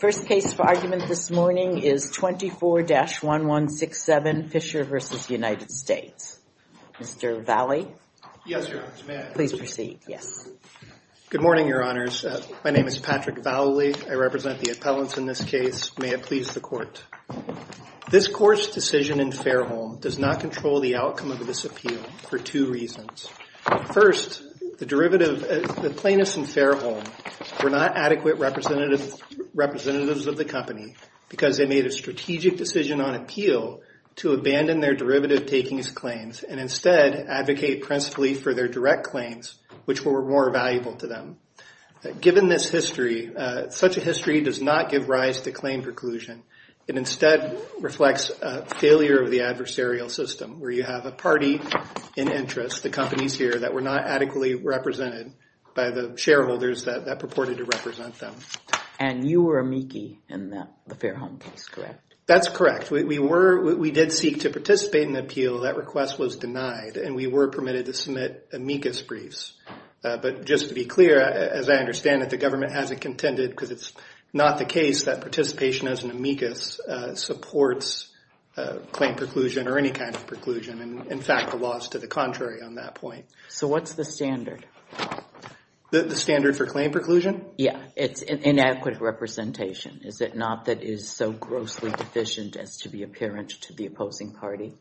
First case for argument this morning is 24-1167 Fisher v. United States. Mr. Vowley? Yes, Your Honor. May I? Please proceed. Yes. Good morning, Your Honors. My name is Patrick Vowley. I represent the appellants in this case. May it please the Court. This Court's decision in Fairholme does not control the outcome of this appeal for two reasons. First, the plaintiffs in Fairholme were not adequate representatives of the company because they made a strategic decision on appeal to abandon their derivative takings claims and instead advocate principally for their direct claims, which were more valuable to them. Given this history, such a history does not give rise to claim preclusion. It instead reflects a failure of the adversarial system where you have a party in interest, the companies here, that were not adequately represented by the shareholders that purported to represent them. And you were amici in the Fairholme case, correct? That's correct. We did seek to participate in the appeal. That request was denied, and we were permitted to submit amicus briefs. But just to be clear, as I understand it, the government hasn't contended because it's not the case that participation as an amicus supports claim preclusion or any kind of preclusion. In fact, the law is to the contrary on that point. So what's the standard? The standard for claim preclusion? Yeah. It's an inadequate representation. Is it not that it is so grossly deficient as to be apparent to the opposing party?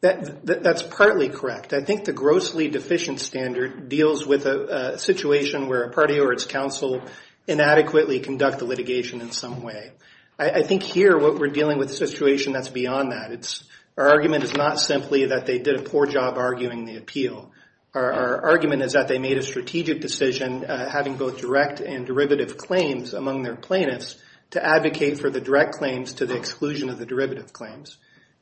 That's partly correct. I think the grossly deficient standard deals with a situation where a party or its counsel inadequately conduct the litigation in some way. I think here what we're dealing with is a situation that's beyond that. Our argument is not simply that they did a poor job arguing the appeal. Our argument is that they made a strategic decision having both direct and derivative claims among their plaintiffs to advocate for the direct claims to the exclusion of the derivative claims.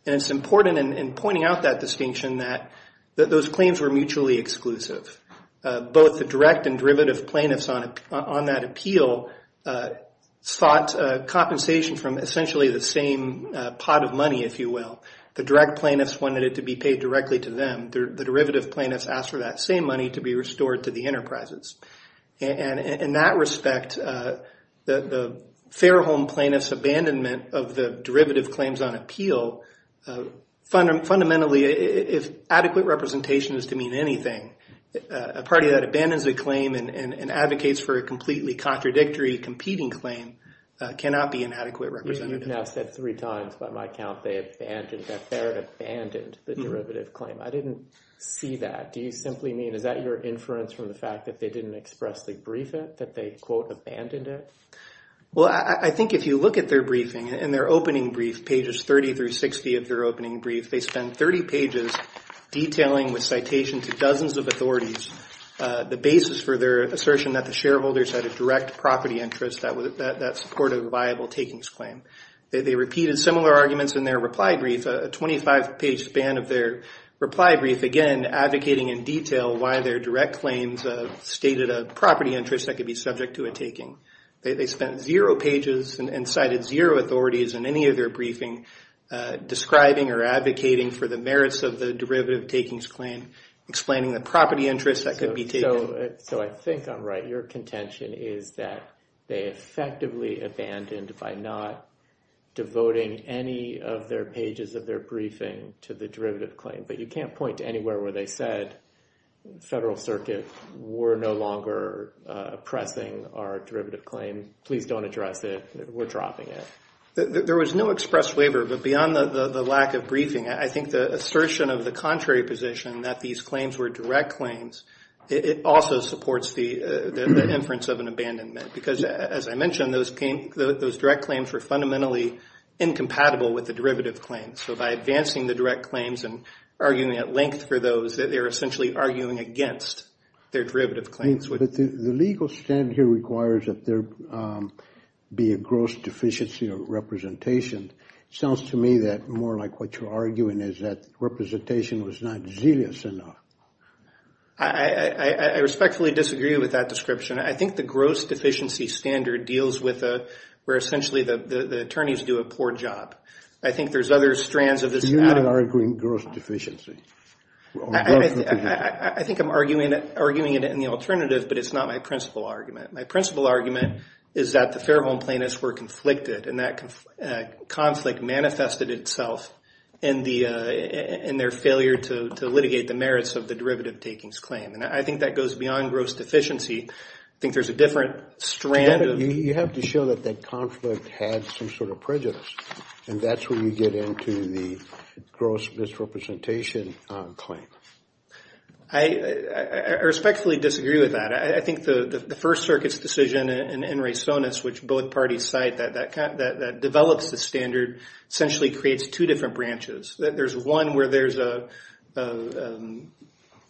And it's important in pointing out that distinction that those claims were mutually exclusive. Both the direct and derivative plaintiffs on that appeal sought compensation from essentially the pot of money, if you will. The direct plaintiffs wanted it to be paid directly to them. The derivative plaintiffs asked for that same money to be restored to the enterprises. In that respect, the fair home plaintiff's abandonment of the derivative claims on appeal, fundamentally, if adequate representation is to mean anything, a party that abandons a claim and advocates for a completely contradictory competing claim cannot be an adequate representative. You've now said three times by my count that they had abandoned the derivative claim. I didn't see that. Do you simply mean, is that your inference from the fact that they didn't expressly brief it, that they, quote, abandoned it? Well, I think if you look at their briefing and their opening brief, pages 30 through 60 of their opening brief, they spend 30 pages detailing with citation to dozens of authorities the basis for their assertion that the shareholders had a direct property interest that supported a viable takings claim. They repeated similar arguments in their reply brief, a 25-page span of their reply brief, again, advocating in detail why their direct claims stated a property interest that could be subject to a taking. They spent zero pages and cited zero authorities in any of their briefing describing or advocating for the merits of the derivative takings claim, explaining the property interest that could be taken. So I think I'm right. Your contention is that they effectively abandoned by not devoting any of their pages of their briefing to the derivative claim. But you can't point to anywhere where they said, the Federal Circuit, we're no longer oppressing our derivative claim. Please don't address it. We're dropping it. There was no express waiver. But beyond the lack of briefing, I think the assertion of the contrary position that these claims were direct claims, it also supports the inference of an those direct claims were fundamentally incompatible with the derivative claims. So by advancing the direct claims and arguing at length for those, that they're essentially arguing against their derivative claims. But the legal standard here requires that there be a gross deficiency of representation. Sounds to me that more like what you're arguing is that representation was not zealous enough. I respectfully disagree with that description. I think the gross deficiency standard deals with where essentially the attorneys do a poor job. I think there's other strands of this. You are arguing gross deficiency. I think I'm arguing it in the alternative, but it's not my principal argument. My principal argument is that the Fairholme plaintiffs were conflicted and that conflict manifested itself in their failure to litigate the merits of the derivative takings claim. And I think that goes you have to show that that conflict had some sort of prejudice. And that's where you get into the gross misrepresentation claim. I respectfully disagree with that. I think the First Circuit's decision and Ray Sonis, which both parties cite, that develops the standard essentially creates two different branches. There's one where there's a and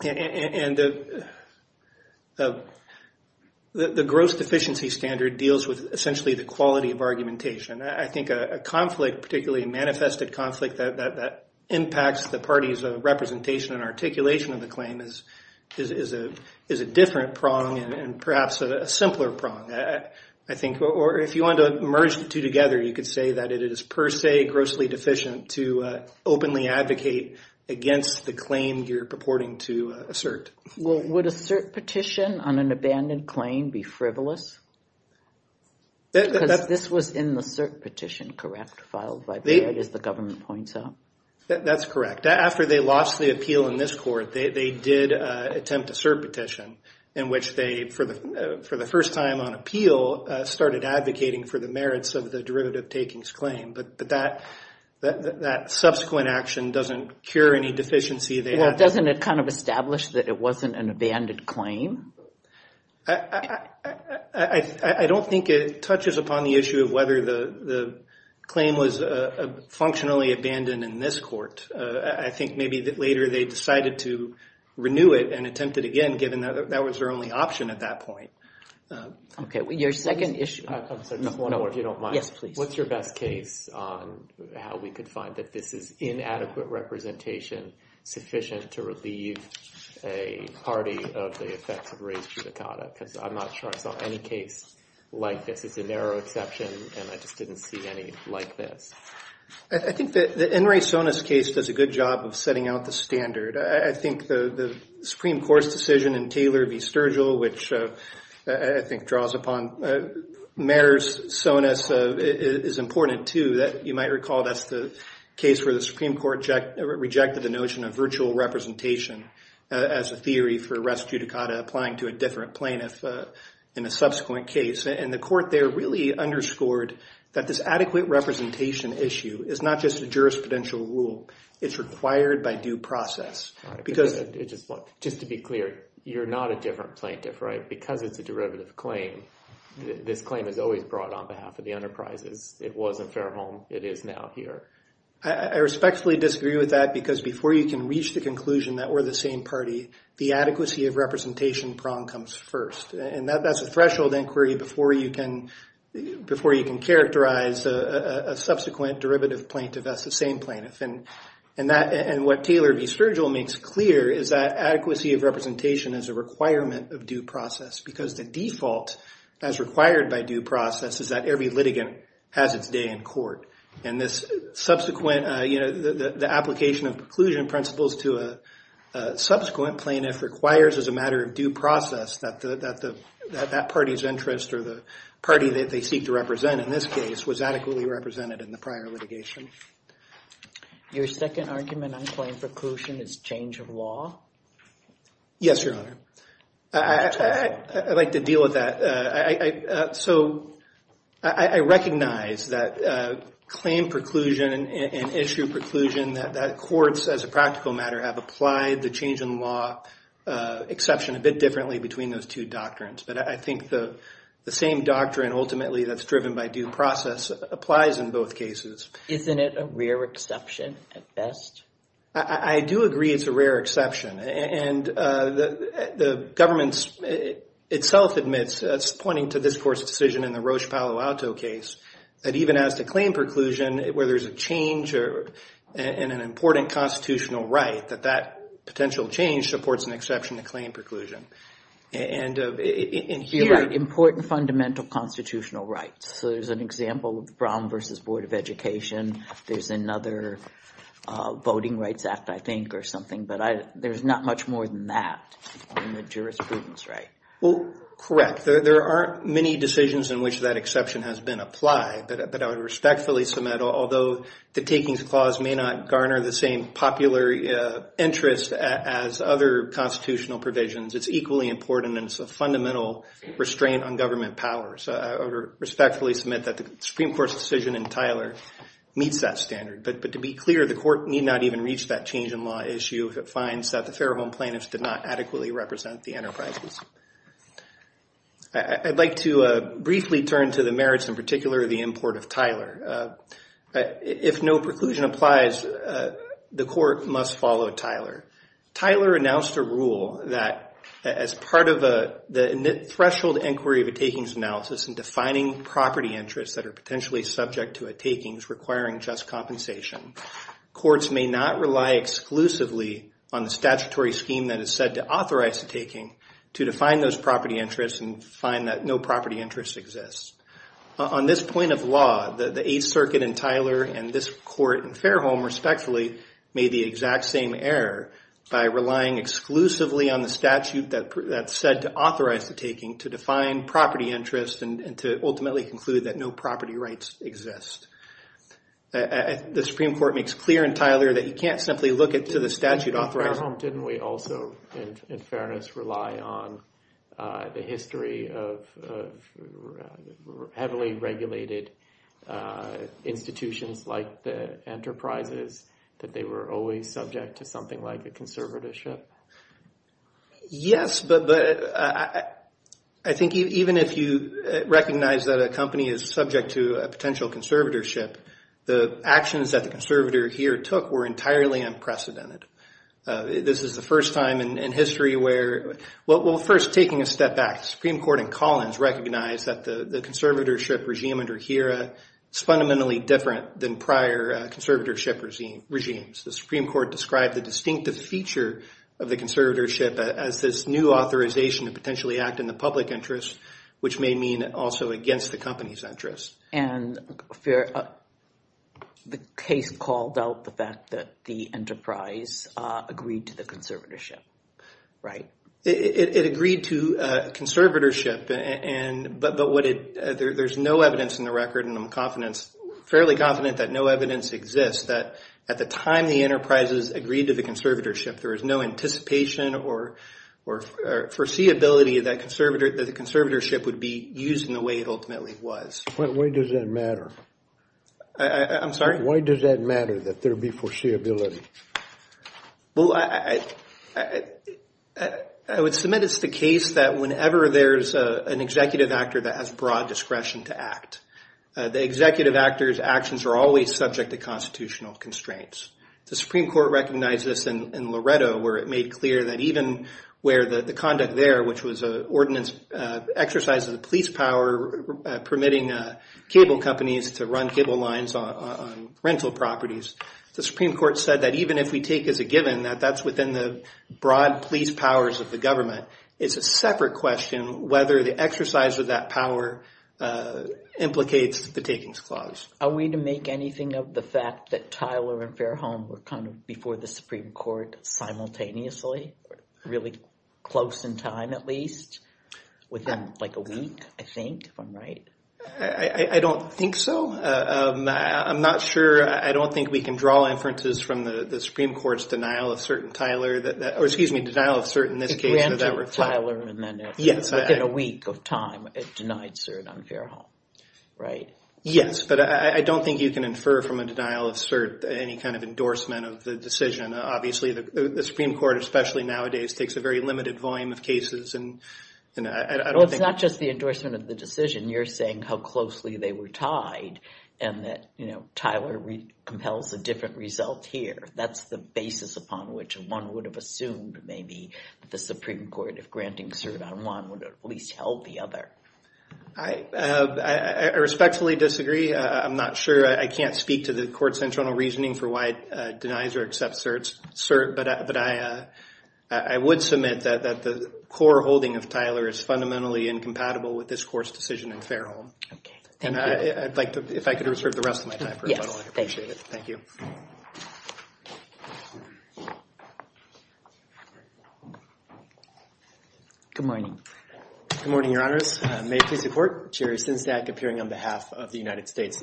the gross deficiency standard deals with essentially the quality of argumentation. I think a conflict, particularly a manifested conflict, that impacts the parties of representation and articulation of the claim is a different prong and perhaps a simpler prong. I think or if you want to merge the two together, you could say that it is per se grossly deficient to openly advocate against the claim you're purporting to assert. Well, would a cert petition on an abandoned claim be frivolous? This was in the cert petition, correct? Filed by the government points out. That's correct. After they lost the appeal in this court, they did attempt a cert petition in which they, for the first time on appeal, started advocating for the merits of the takings claim. But that subsequent action doesn't cure any deficiency. Well, doesn't it kind of establish that it wasn't an abandoned claim? I don't think it touches upon the issue of whether the claim was functionally abandoned in this court. I think maybe that later they decided to renew it and attempted again, given that that was their only option at that point. Okay, your second issue. If you don't mind, what's your best case on how we could find that this is inadequate representation sufficient to relieve a party of the effects of race judicata? Because I'm not sure I saw any case like this. It's a narrow exception and I just didn't see any like this. I think that the Enri Sonis case does a good job of setting out the standard. I think the Supreme Court's decision in Taylor v. Sturgill, which I think draws upon merits Sonis, is important too. You might recall that's the case where the Supreme Court rejected the notion of virtual representation as a theory for rest judicata applying to a different plaintiff in a subsequent case. The court there really underscored that this adequate representation issue is not just a jurisprudential rule. It's required by due process. Just to be clear, you're not a different plaintiff, right? Because it's a derivative claim, this claim is always brought on behalf of the enterprises. It was in Fairholme. It is now here. I respectfully disagree with that because before you can reach the conclusion that we're the same party, the adequacy of representation prong comes first. That's a threshold inquiry before you can characterize a subsequent derivative plaintiff as the same plaintiff. What Taylor v. Sturgill makes clear is that adequacy of representation is a requirement of due process because the default as required by due process is that every litigant has its day in court. The application of preclusion principles to a subsequent plaintiff requires as a matter of due process that that party's interest or the party that they seek to represent in this case was adequately represented in the prior litigation. Your second argument on claim preclusion is change of law? Yes, Your Honor. I'd like to deal with that. So I recognize that claim preclusion and issue preclusion that courts as a practical matter have applied the change in law exception a bit differently between those two doctrines. But I think the same doctrine ultimately that's driven by due process applies in both cases. Isn't it a rare exception at best? I do agree it's a rare exception. And the government itself admits it's pointing to this court's decision in the Roche Palo Alto case that even as to claim preclusion where there's a change in an important constitutional right that that potential change supports an exception to claim preclusion. You're right, important fundamental constitutional rights. So there's an example of the Brown versus Board of Education. There's another Voting Rights Act, I think, or something. But there's not much more than that in the jurisprudence, right? Well, correct. There aren't many decisions in which that exception has been applied. But I would respectfully submit, although the takings clause may not garner the same popular interest as other constitutional provisions, it's equally important and it's a fundamental restraint on government powers. I respectfully submit that the Supreme Court's decision in Tyler meets that standard. But to be clear, the court need not even reach that change in law issue if it finds that the Fairholme plaintiffs did not adequately represent the enterprises. I'd like to briefly turn to the merits in particular of the import of Tyler. If no preclusion applies, the court must follow Tyler. Tyler announced a rule that as part of the threshold inquiry of a takings analysis and defining property interests that are potentially subject to a takings requiring just compensation, courts may not rely exclusively on the statutory scheme that is said to authorize the taking to define those property interests and find that no property interest exists. On this point of law, the Eighth Circuit in Tyler and this court in Fairholme, respectfully, made the exact same error by relying exclusively on the statute that's said to authorize the taking to define property interest and to ultimately conclude that no property rights exist. The Supreme Court makes clear in Tyler that you can't simply look at to the statute authorizing... Fairholme, didn't we also, in fairness, rely on the history of heavily regulated institutions like the enterprises that they were always subject to something like a conservatorship? Yes, but I think even if you recognize that a company is subject to a potential conservatorship, the actions that the conservator here took were entirely unprecedented. This is the first time in history where... Well, first, taking a step back, the Supreme Court in Collins recognized that the conservatorship regime under HERA is fundamentally different than prior conservatorship regimes. The Supreme Court described the distinctive feature of the conservatorship as this new authorization to potentially act in the public interest, which may mean also against the company's interest. And the case called out the fact that the enterprise agreed to the conservatorship, right? It agreed to conservatorship, but there's no evidence in the record, and I'm fairly confident that no evidence exists, that at the time the enterprises agreed to the conservatorship, there was no anticipation or foreseeability that the conservatorship would be used in the way it ultimately was. Why does that matter? I'm sorry? Why does that matter, that there be foreseeability? I would submit it's the case that whenever there's an executive actor that has broad discretion to act, the executive actor's actions are always subject to constitutional constraints. The Supreme Court recognized this in Loretto, where it made clear that even where the conduct there, which was an ordinance exercise of the police power permitting cable companies to run cable lines on rental properties, the Supreme Court said that even if we take as a given that that's within the broad police powers of the government, it's a separate question whether the exercise of that power implicates the takings clause. Are we to make anything of the fact that Tyler and Fairholme were kind of before the Supreme Court simultaneously, really close in time at least, within like a week, I think, if I'm right? I don't think so. I'm not sure. I don't think we can draw inferences from the Supreme Court's denial of cert in Tyler. Or excuse me, denial of cert in this case. It ran to Tyler and then within a week of time, it denied cert on Fairholme, right? Yes, but I don't think you can infer from a denial of cert any kind of endorsement of the decision. Obviously, the Supreme Court, especially nowadays, takes a very limited volume of cases. Well, it's not just the endorsement of the decision. You're saying how closely they were tied and that Tyler compels a different result here. That's the basis upon which one would have assumed maybe the Supreme Court, if granting cert on one, would at least help the other. I respectfully disagree. I'm not sure. I can't speak to the court's internal reasoning for why it denies or accepts cert. But I would submit that the core holding of Tyler is fundamentally incompatible with this court's decision in Fairholme. Okay, thank you. And I'd like to, if I could reserve the rest of my time for a moment, I'd appreciate it. Thank you. Good morning. Good morning, Your Honors. May it please the Court. Jerry Sinsnak, appearing on behalf of the United States.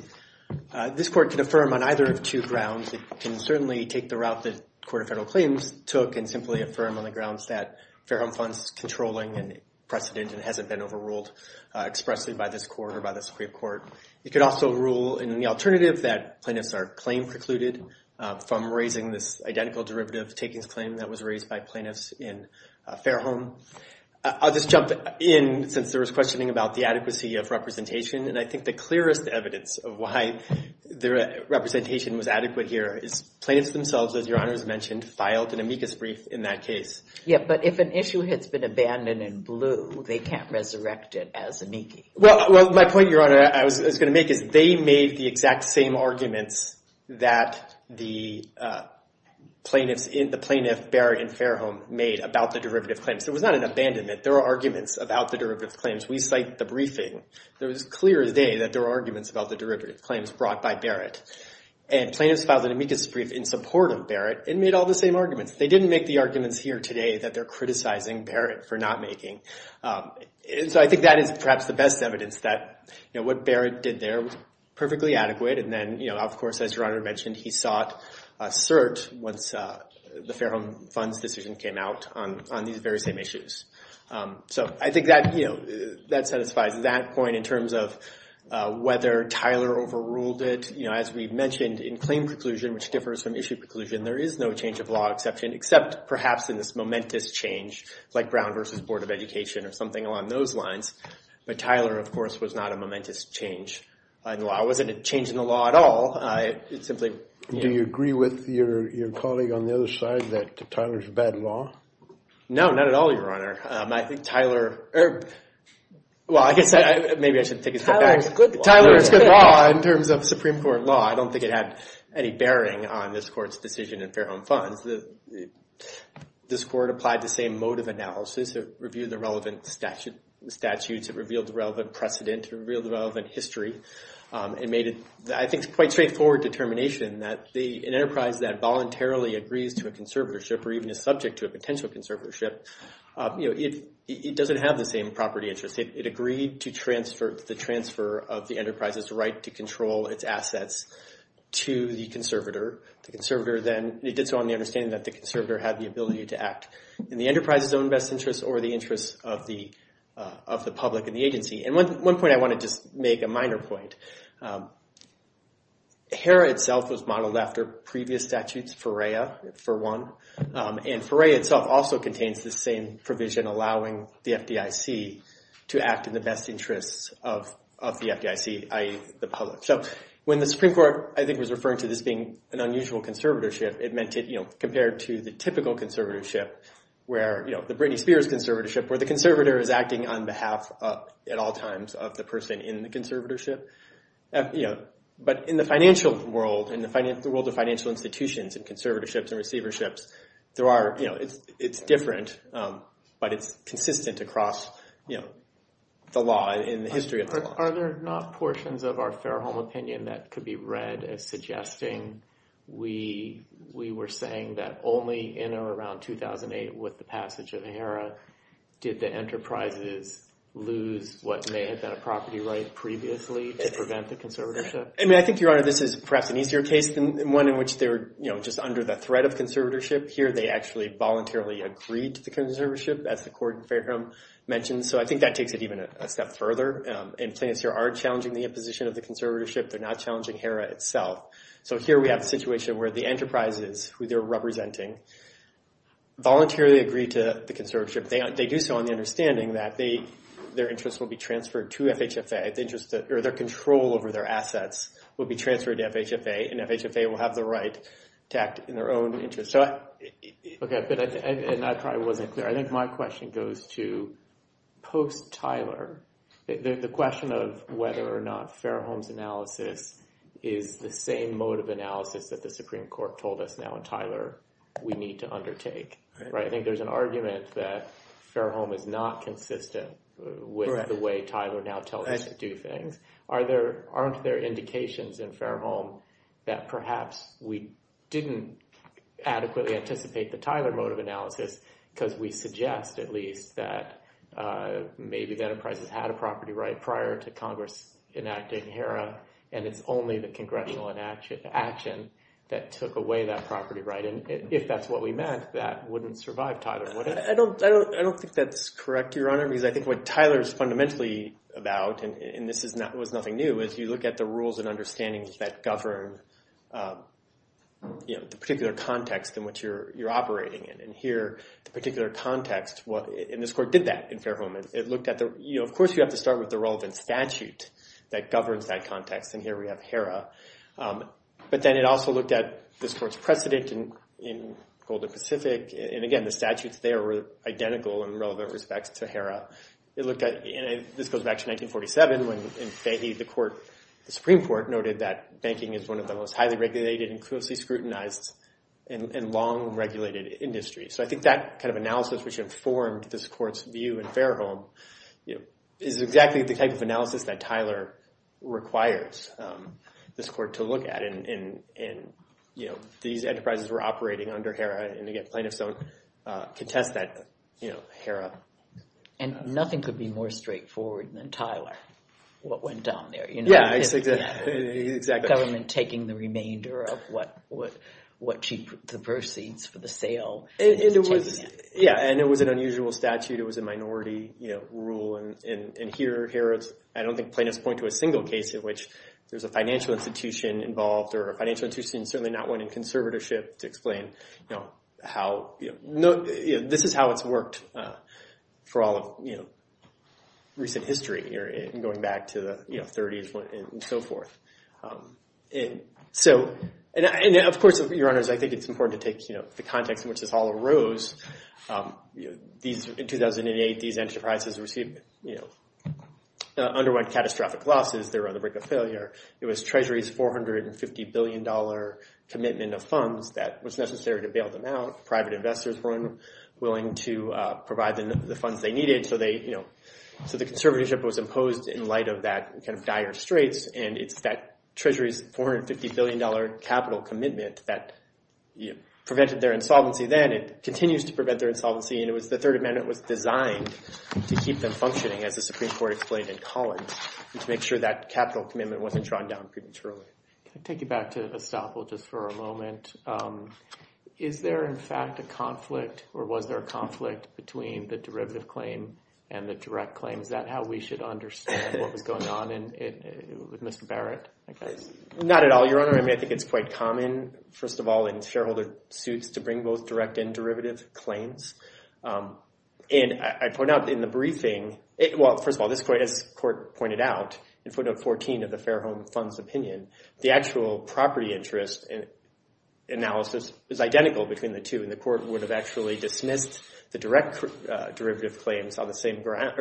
This Court can affirm on either of two grounds. It can certainly take the route the Court of Federal Claims took and simply affirm on the grounds that Fairholme Fund's controlling and precedent and hasn't been overruled expressly by this Court or by the Supreme Court. It could also rule in the alternative that plaintiffs are claim precluded from raising this identical derivative takings claim that was raised by plaintiffs in Fairholme. I'll just jump in, since there was questioning about the adequacy of representation. And I think the clearest evidence of why the representation was adequate here is plaintiffs themselves, as Your Honors mentioned, filed an amicus brief in that case. Yeah, but if an issue has been abandoned and blew, they can't resurrect it as amicus. Well, my point, Your Honor, I was going to make is they made the exact same arguments that the plaintiff Barrett in Fairholme made about the derivative claims. There was not an abandonment. There were arguments about the derivative claims. We cite the briefing. It was clear as day that there were arguments about the derivative claims brought by Barrett. And plaintiffs filed an amicus brief in support of Barrett and made all the same arguments. They didn't make the arguments here today that they're criticizing Barrett for not making. So I think that is perhaps the best evidence that what Barrett did there was perfectly adequate. And then, of course, as Your Honor mentioned, he sought cert once the Fairholme Fund's decision came out on these very same issues. So I think that satisfies that point in terms of whether Tyler overruled it. As we mentioned, in claim preclusion, which differs from issue preclusion, there is no change of law exception except perhaps in this momentous change, like Brown v. Board of Education or something along those lines. But Tyler, of course, was not a momentous change in the law. It wasn't a change in the law at all. Do you agree with your colleague on the other side that Tyler's a bad law? No, not at all, Your Honor. I think Tyler... Well, I guess maybe I should take a step back. Tyler is good law in terms of Supreme Court law. I don't think it had any bearing on this Court's decision in Fairholme Funds. This Court applied the same mode of analysis to review the relevant statutes. It revealed the relevant precedent. It revealed the relevant history. It made, I think, a quite straightforward determination that an enterprise that voluntarily agrees to a conservatorship or even is subject to a potential conservatorship, it doesn't have the same property interests. It agreed to the transfer of the enterprise's right to control its assets to the conservator. The conservator then... It did so on the understanding that the conservator had the ability to act in the enterprise's own best interests or the interests of the public and the agency. And one point I want to just make, a minor point. HERA itself was modeled after previous statutes, FERREA, for one. And FERREA itself also contains the same provision allowing the FDIC to act in the best interests of the FDIC, i.e., the public. So when the Supreme Court, I think, was referring to this being an unusual conservatorship, it meant it, you know, compared to the typical conservatorship where, you know, the Britney Spears conservatorship where the conservator is acting on behalf at all times of the person in the conservatorship. You know, but in the financial world, in the world of financial institutions and conservatorships and receiverships, there are, you know, it's different, but it's consistent across, you know, the law and the history of the law. Are there not portions of our fair home opinion that could be read as suggesting we were saying that only in or around 2008 with the passage of HERA did the enterprises lose what may have been a property right previously to prevent the conservatorship? I mean, I think, Your Honor, this is perhaps an easier case than one in which they were, you know, just under the threat of conservatorship. Here they actually voluntarily agreed to the conservatorship, as the court fair home mentioned. So I think that takes it even a step further. And plaintiffs here are challenging the imposition of the conservatorship. They're not challenging HERA itself. So here we have a situation where the enterprises who they're representing voluntarily agreed to the conservatorship. They do so on the understanding that their interest will be transferred to FHFA. Or their control over their assets will be transferred to FHFA, and FHFA will have the right to act in their own interest. So... Okay, and I probably wasn't clear. I think my question goes to post-Tyler. The question of whether or not fair homes analysis is the same mode of analysis that the Supreme Court told us now in Tyler we need to undertake, right? I think there's an argument that fair home is not consistent with the way Tyler now tells us to do things. Aren't there indications in fair home that perhaps we didn't adequately anticipate the Tyler mode of analysis because we suggest at least that maybe the enterprises had a property right prior to Congress enacting HERA, and it's only the congressional action that took away that property right. And if that's what we meant, that wouldn't survive Tyler, would it? I don't think that's correct, Your Honor, because I think what Tyler is fundamentally about, and this was nothing new, is you look at the rules and understandings that govern the particular context in which you're operating in. And here, the particular context, and this court did that in fair home. It looked at the... Of course, you have to start with the relevant statute that governs that context, and here we have HERA. But then it also looked at this court's precedent in Golden Pacific. And again, the statutes there were identical in relevant respects to HERA. It looked at... And this goes back to 1947 when in Fahey, the Supreme Court noted that banking is one of the most highly regulated and closely scrutinized and long-regulated industries. So I think that kind of analysis which informed this court's view in fair home is exactly the type of analysis that Tyler requires this court to look at. And these enterprises were operating under HERA, and again, plaintiffs don't contest that HERA. And nothing could be more straightforward than Tyler, what went down there. Yeah, exactly. Government taking the remainder of what she... The proceeds for the sale. Yeah, and it was an unusual statute. It was a minority rule. And here, I don't think plaintiffs point to a single case in which there's a financial institution involved or a financial institution, certainly not one in conservatorship, to explain how... This is how it's worked for all of recent history going back to the 30s and so forth. And of course, Your Honors, I think it's important to take the context in which this all arose. In 2008, these enterprises received... Underwent catastrophic losses. They were on the brink of failure. It was Treasury's $450 billion commitment of funds that was necessary to bail them out. Private investors weren't willing to provide the funds they needed. So the conservatorship was imposed in light of that kind of dire straits. And it's that Treasury's $450 billion capital commitment that prevented their insolvency then. It continues to prevent their insolvency. And it was the Third Amendment was designed to keep them functioning, as the Supreme Court explained in Collins, and to make sure that capital commitment wasn't drawn down prematurely. Can I take you back to Estoppel just for a moment? Is there, in fact, a conflict, or was there a conflict between the derivative claim and the direct claim? Is that how we should understand what was going on with Mr. Barrett? Not at all, Your Honor. I mean, I think it's quite common, first of all, in shareholder suits to bring both direct and derivative claims. And I point out in the briefing... Well, first of all, as the Court pointed out in footnote 14 of the Fairholme Fund's opinion, the actual property interest analysis is identical between the two. And the Court would have actually dismissed the direct takings claims on the same ground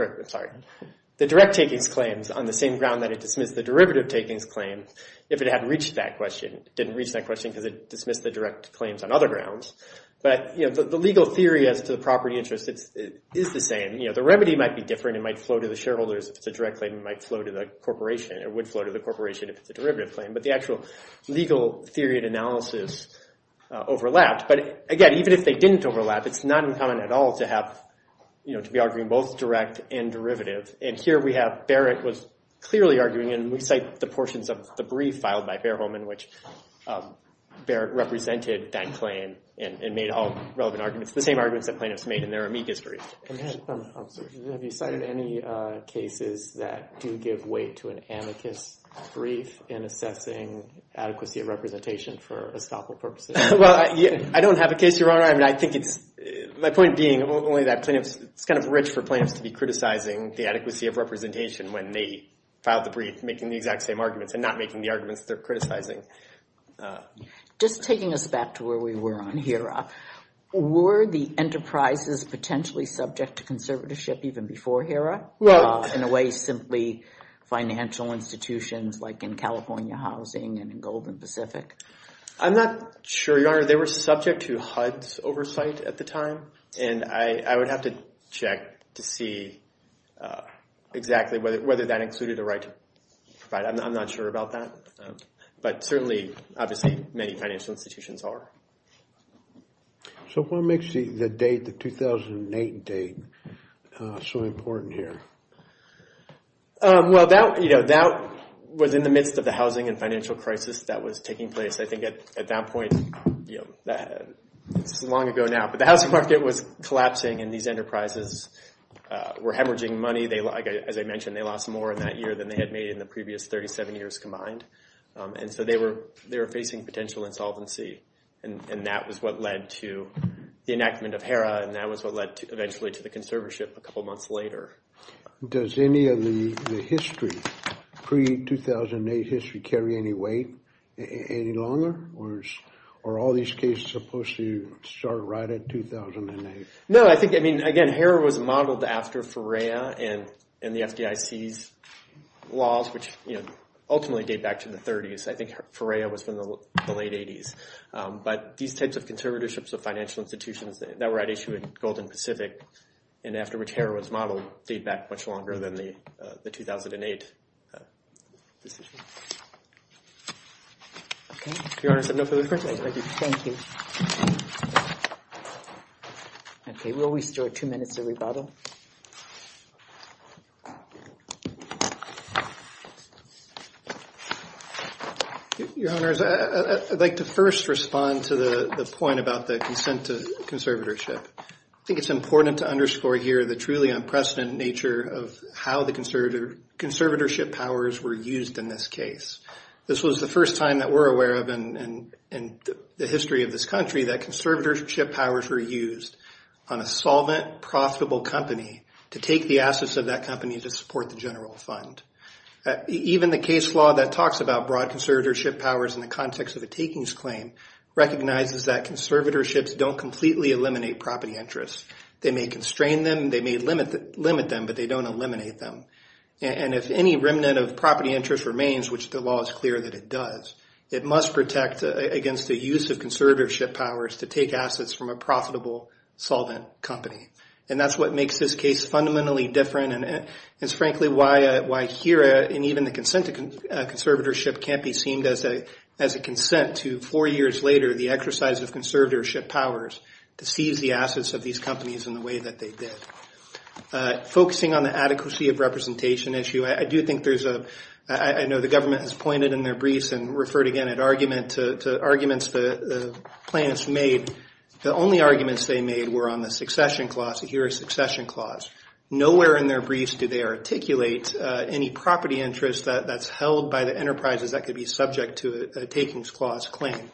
that it dismissed the derivative takings claim if it had reached that question. It didn't reach that question because it dismissed the direct claims on other grounds. But the legal theory as to the property interest is the same. The remedy might be different. It might flow to the shareholders if it's a direct claim. It might flow to the corporation. But the actual legal theory and analysis overlapped. But again, even if they didn't overlap, it's not uncommon at all to be arguing both direct and derivative. And here we have Barrett was clearly arguing, and we cite the portions of the brief filed by Fairholme in which Barrett represented that claim and made all relevant arguments, the same arguments that plaintiffs made in their amicus brief. And have you cited any cases that do give weight to an amicus brief in assessing adequacy of representation for estoppel purposes? Well, I don't have a case, Your Honor. I mean, I think it's, my point being only that plaintiffs, it's kind of rich for plaintiffs to be criticizing the adequacy of representation when they filed the brief making the exact same arguments and not making the arguments they're criticizing. Just taking us back to where we were on HERA, were the enterprises potentially subject to conservatorship even before HERA? In a way, simply financial institutions like in California housing and in Golden Pacific? I'm not sure, Your Honor. They were subject to HUD's oversight at the time. And I would have to check to see exactly whether that included a right to provide. I'm not sure about that. But certainly, obviously, many financial institutions are. So what makes the date, the 2008 date so important here? Well, that was in the midst of the housing and financial crisis that was taking place. I think at that point, it's long ago now, but the housing market was collapsing and these enterprises were hemorrhaging money. They, as I mentioned, they lost more in that year than they had made in the previous 37 years combined. And so they were facing potential insolvency. And that was what led to the enactment of HERA. And that was what led eventually to the conservatorship a couple months later. Does any of the history, pre-2008 history, carry any weight any longer? Or are all these cases supposed to start right at 2008? No, I think, I mean, again, HERA was modeled after FERREA and the FDIC's laws, which ultimately date back to the 30s. I think FERREA was from the late 80s. But these types of conservatorships of financial institutions that were at issue in Golden Pacific and after which HERA was modeled date back much longer than the 2008 decision. Your Honor, is there no further questions? I do, thank you. Okay, we'll restore two minutes of rebuttal. Your Honors, I'd like to first respond to the point about the consent to conservatorship. I think it's important to underscore here the truly unprecedented nature of how the conservatorship powers were used in this case. This was the first time that we're aware of in the history of this country that conservatorship powers were used on a solvent, profitable company to take the assets of that company to support the general fund. Even the case law that talks about broad conservatorship powers in the context of a takings claim recognizes that conservatorships don't completely eliminate property interests. They may constrain them, they may limit them, but they don't eliminate them. And if any remnant of property interest remains, which the law is clear that it does, it must protect against the use of conservatorship powers to take assets from a profitable solvent company. And that's what makes this case fundamentally different and it's frankly why HERA and even the consent to conservatorship can't be seen as a consent to four years later the exercise of conservatorship powers to seize the assets of these companies in the way that they did. Focusing on the adequacy of representation issue, I do think there's a... I know the government has pointed in their briefs and referred again at argument to arguments the plaintiffs made. The only arguments they made were on the succession clause, the HERA succession clause. Nowhere in their briefs do they articulate any property interest that's held by the enterprises that could be subject to a takings clause claim.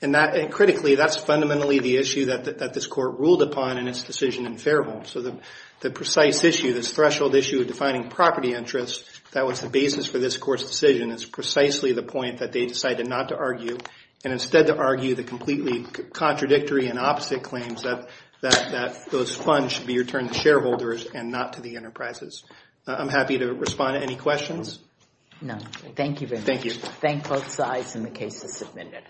And critically, that's fundamentally the issue that this court ruled upon in its decision in Faribault. So the precise issue, this threshold issue of defining property interest, that was the basis for this court's decision is precisely the point that they decided not to argue and instead to argue the completely contradictory and opposite claims that those funds should be returned to shareholders and not to the enterprises. I'm happy to respond to any questions. No, thank you very much. Thank you. Thank both sides and the case is submitted.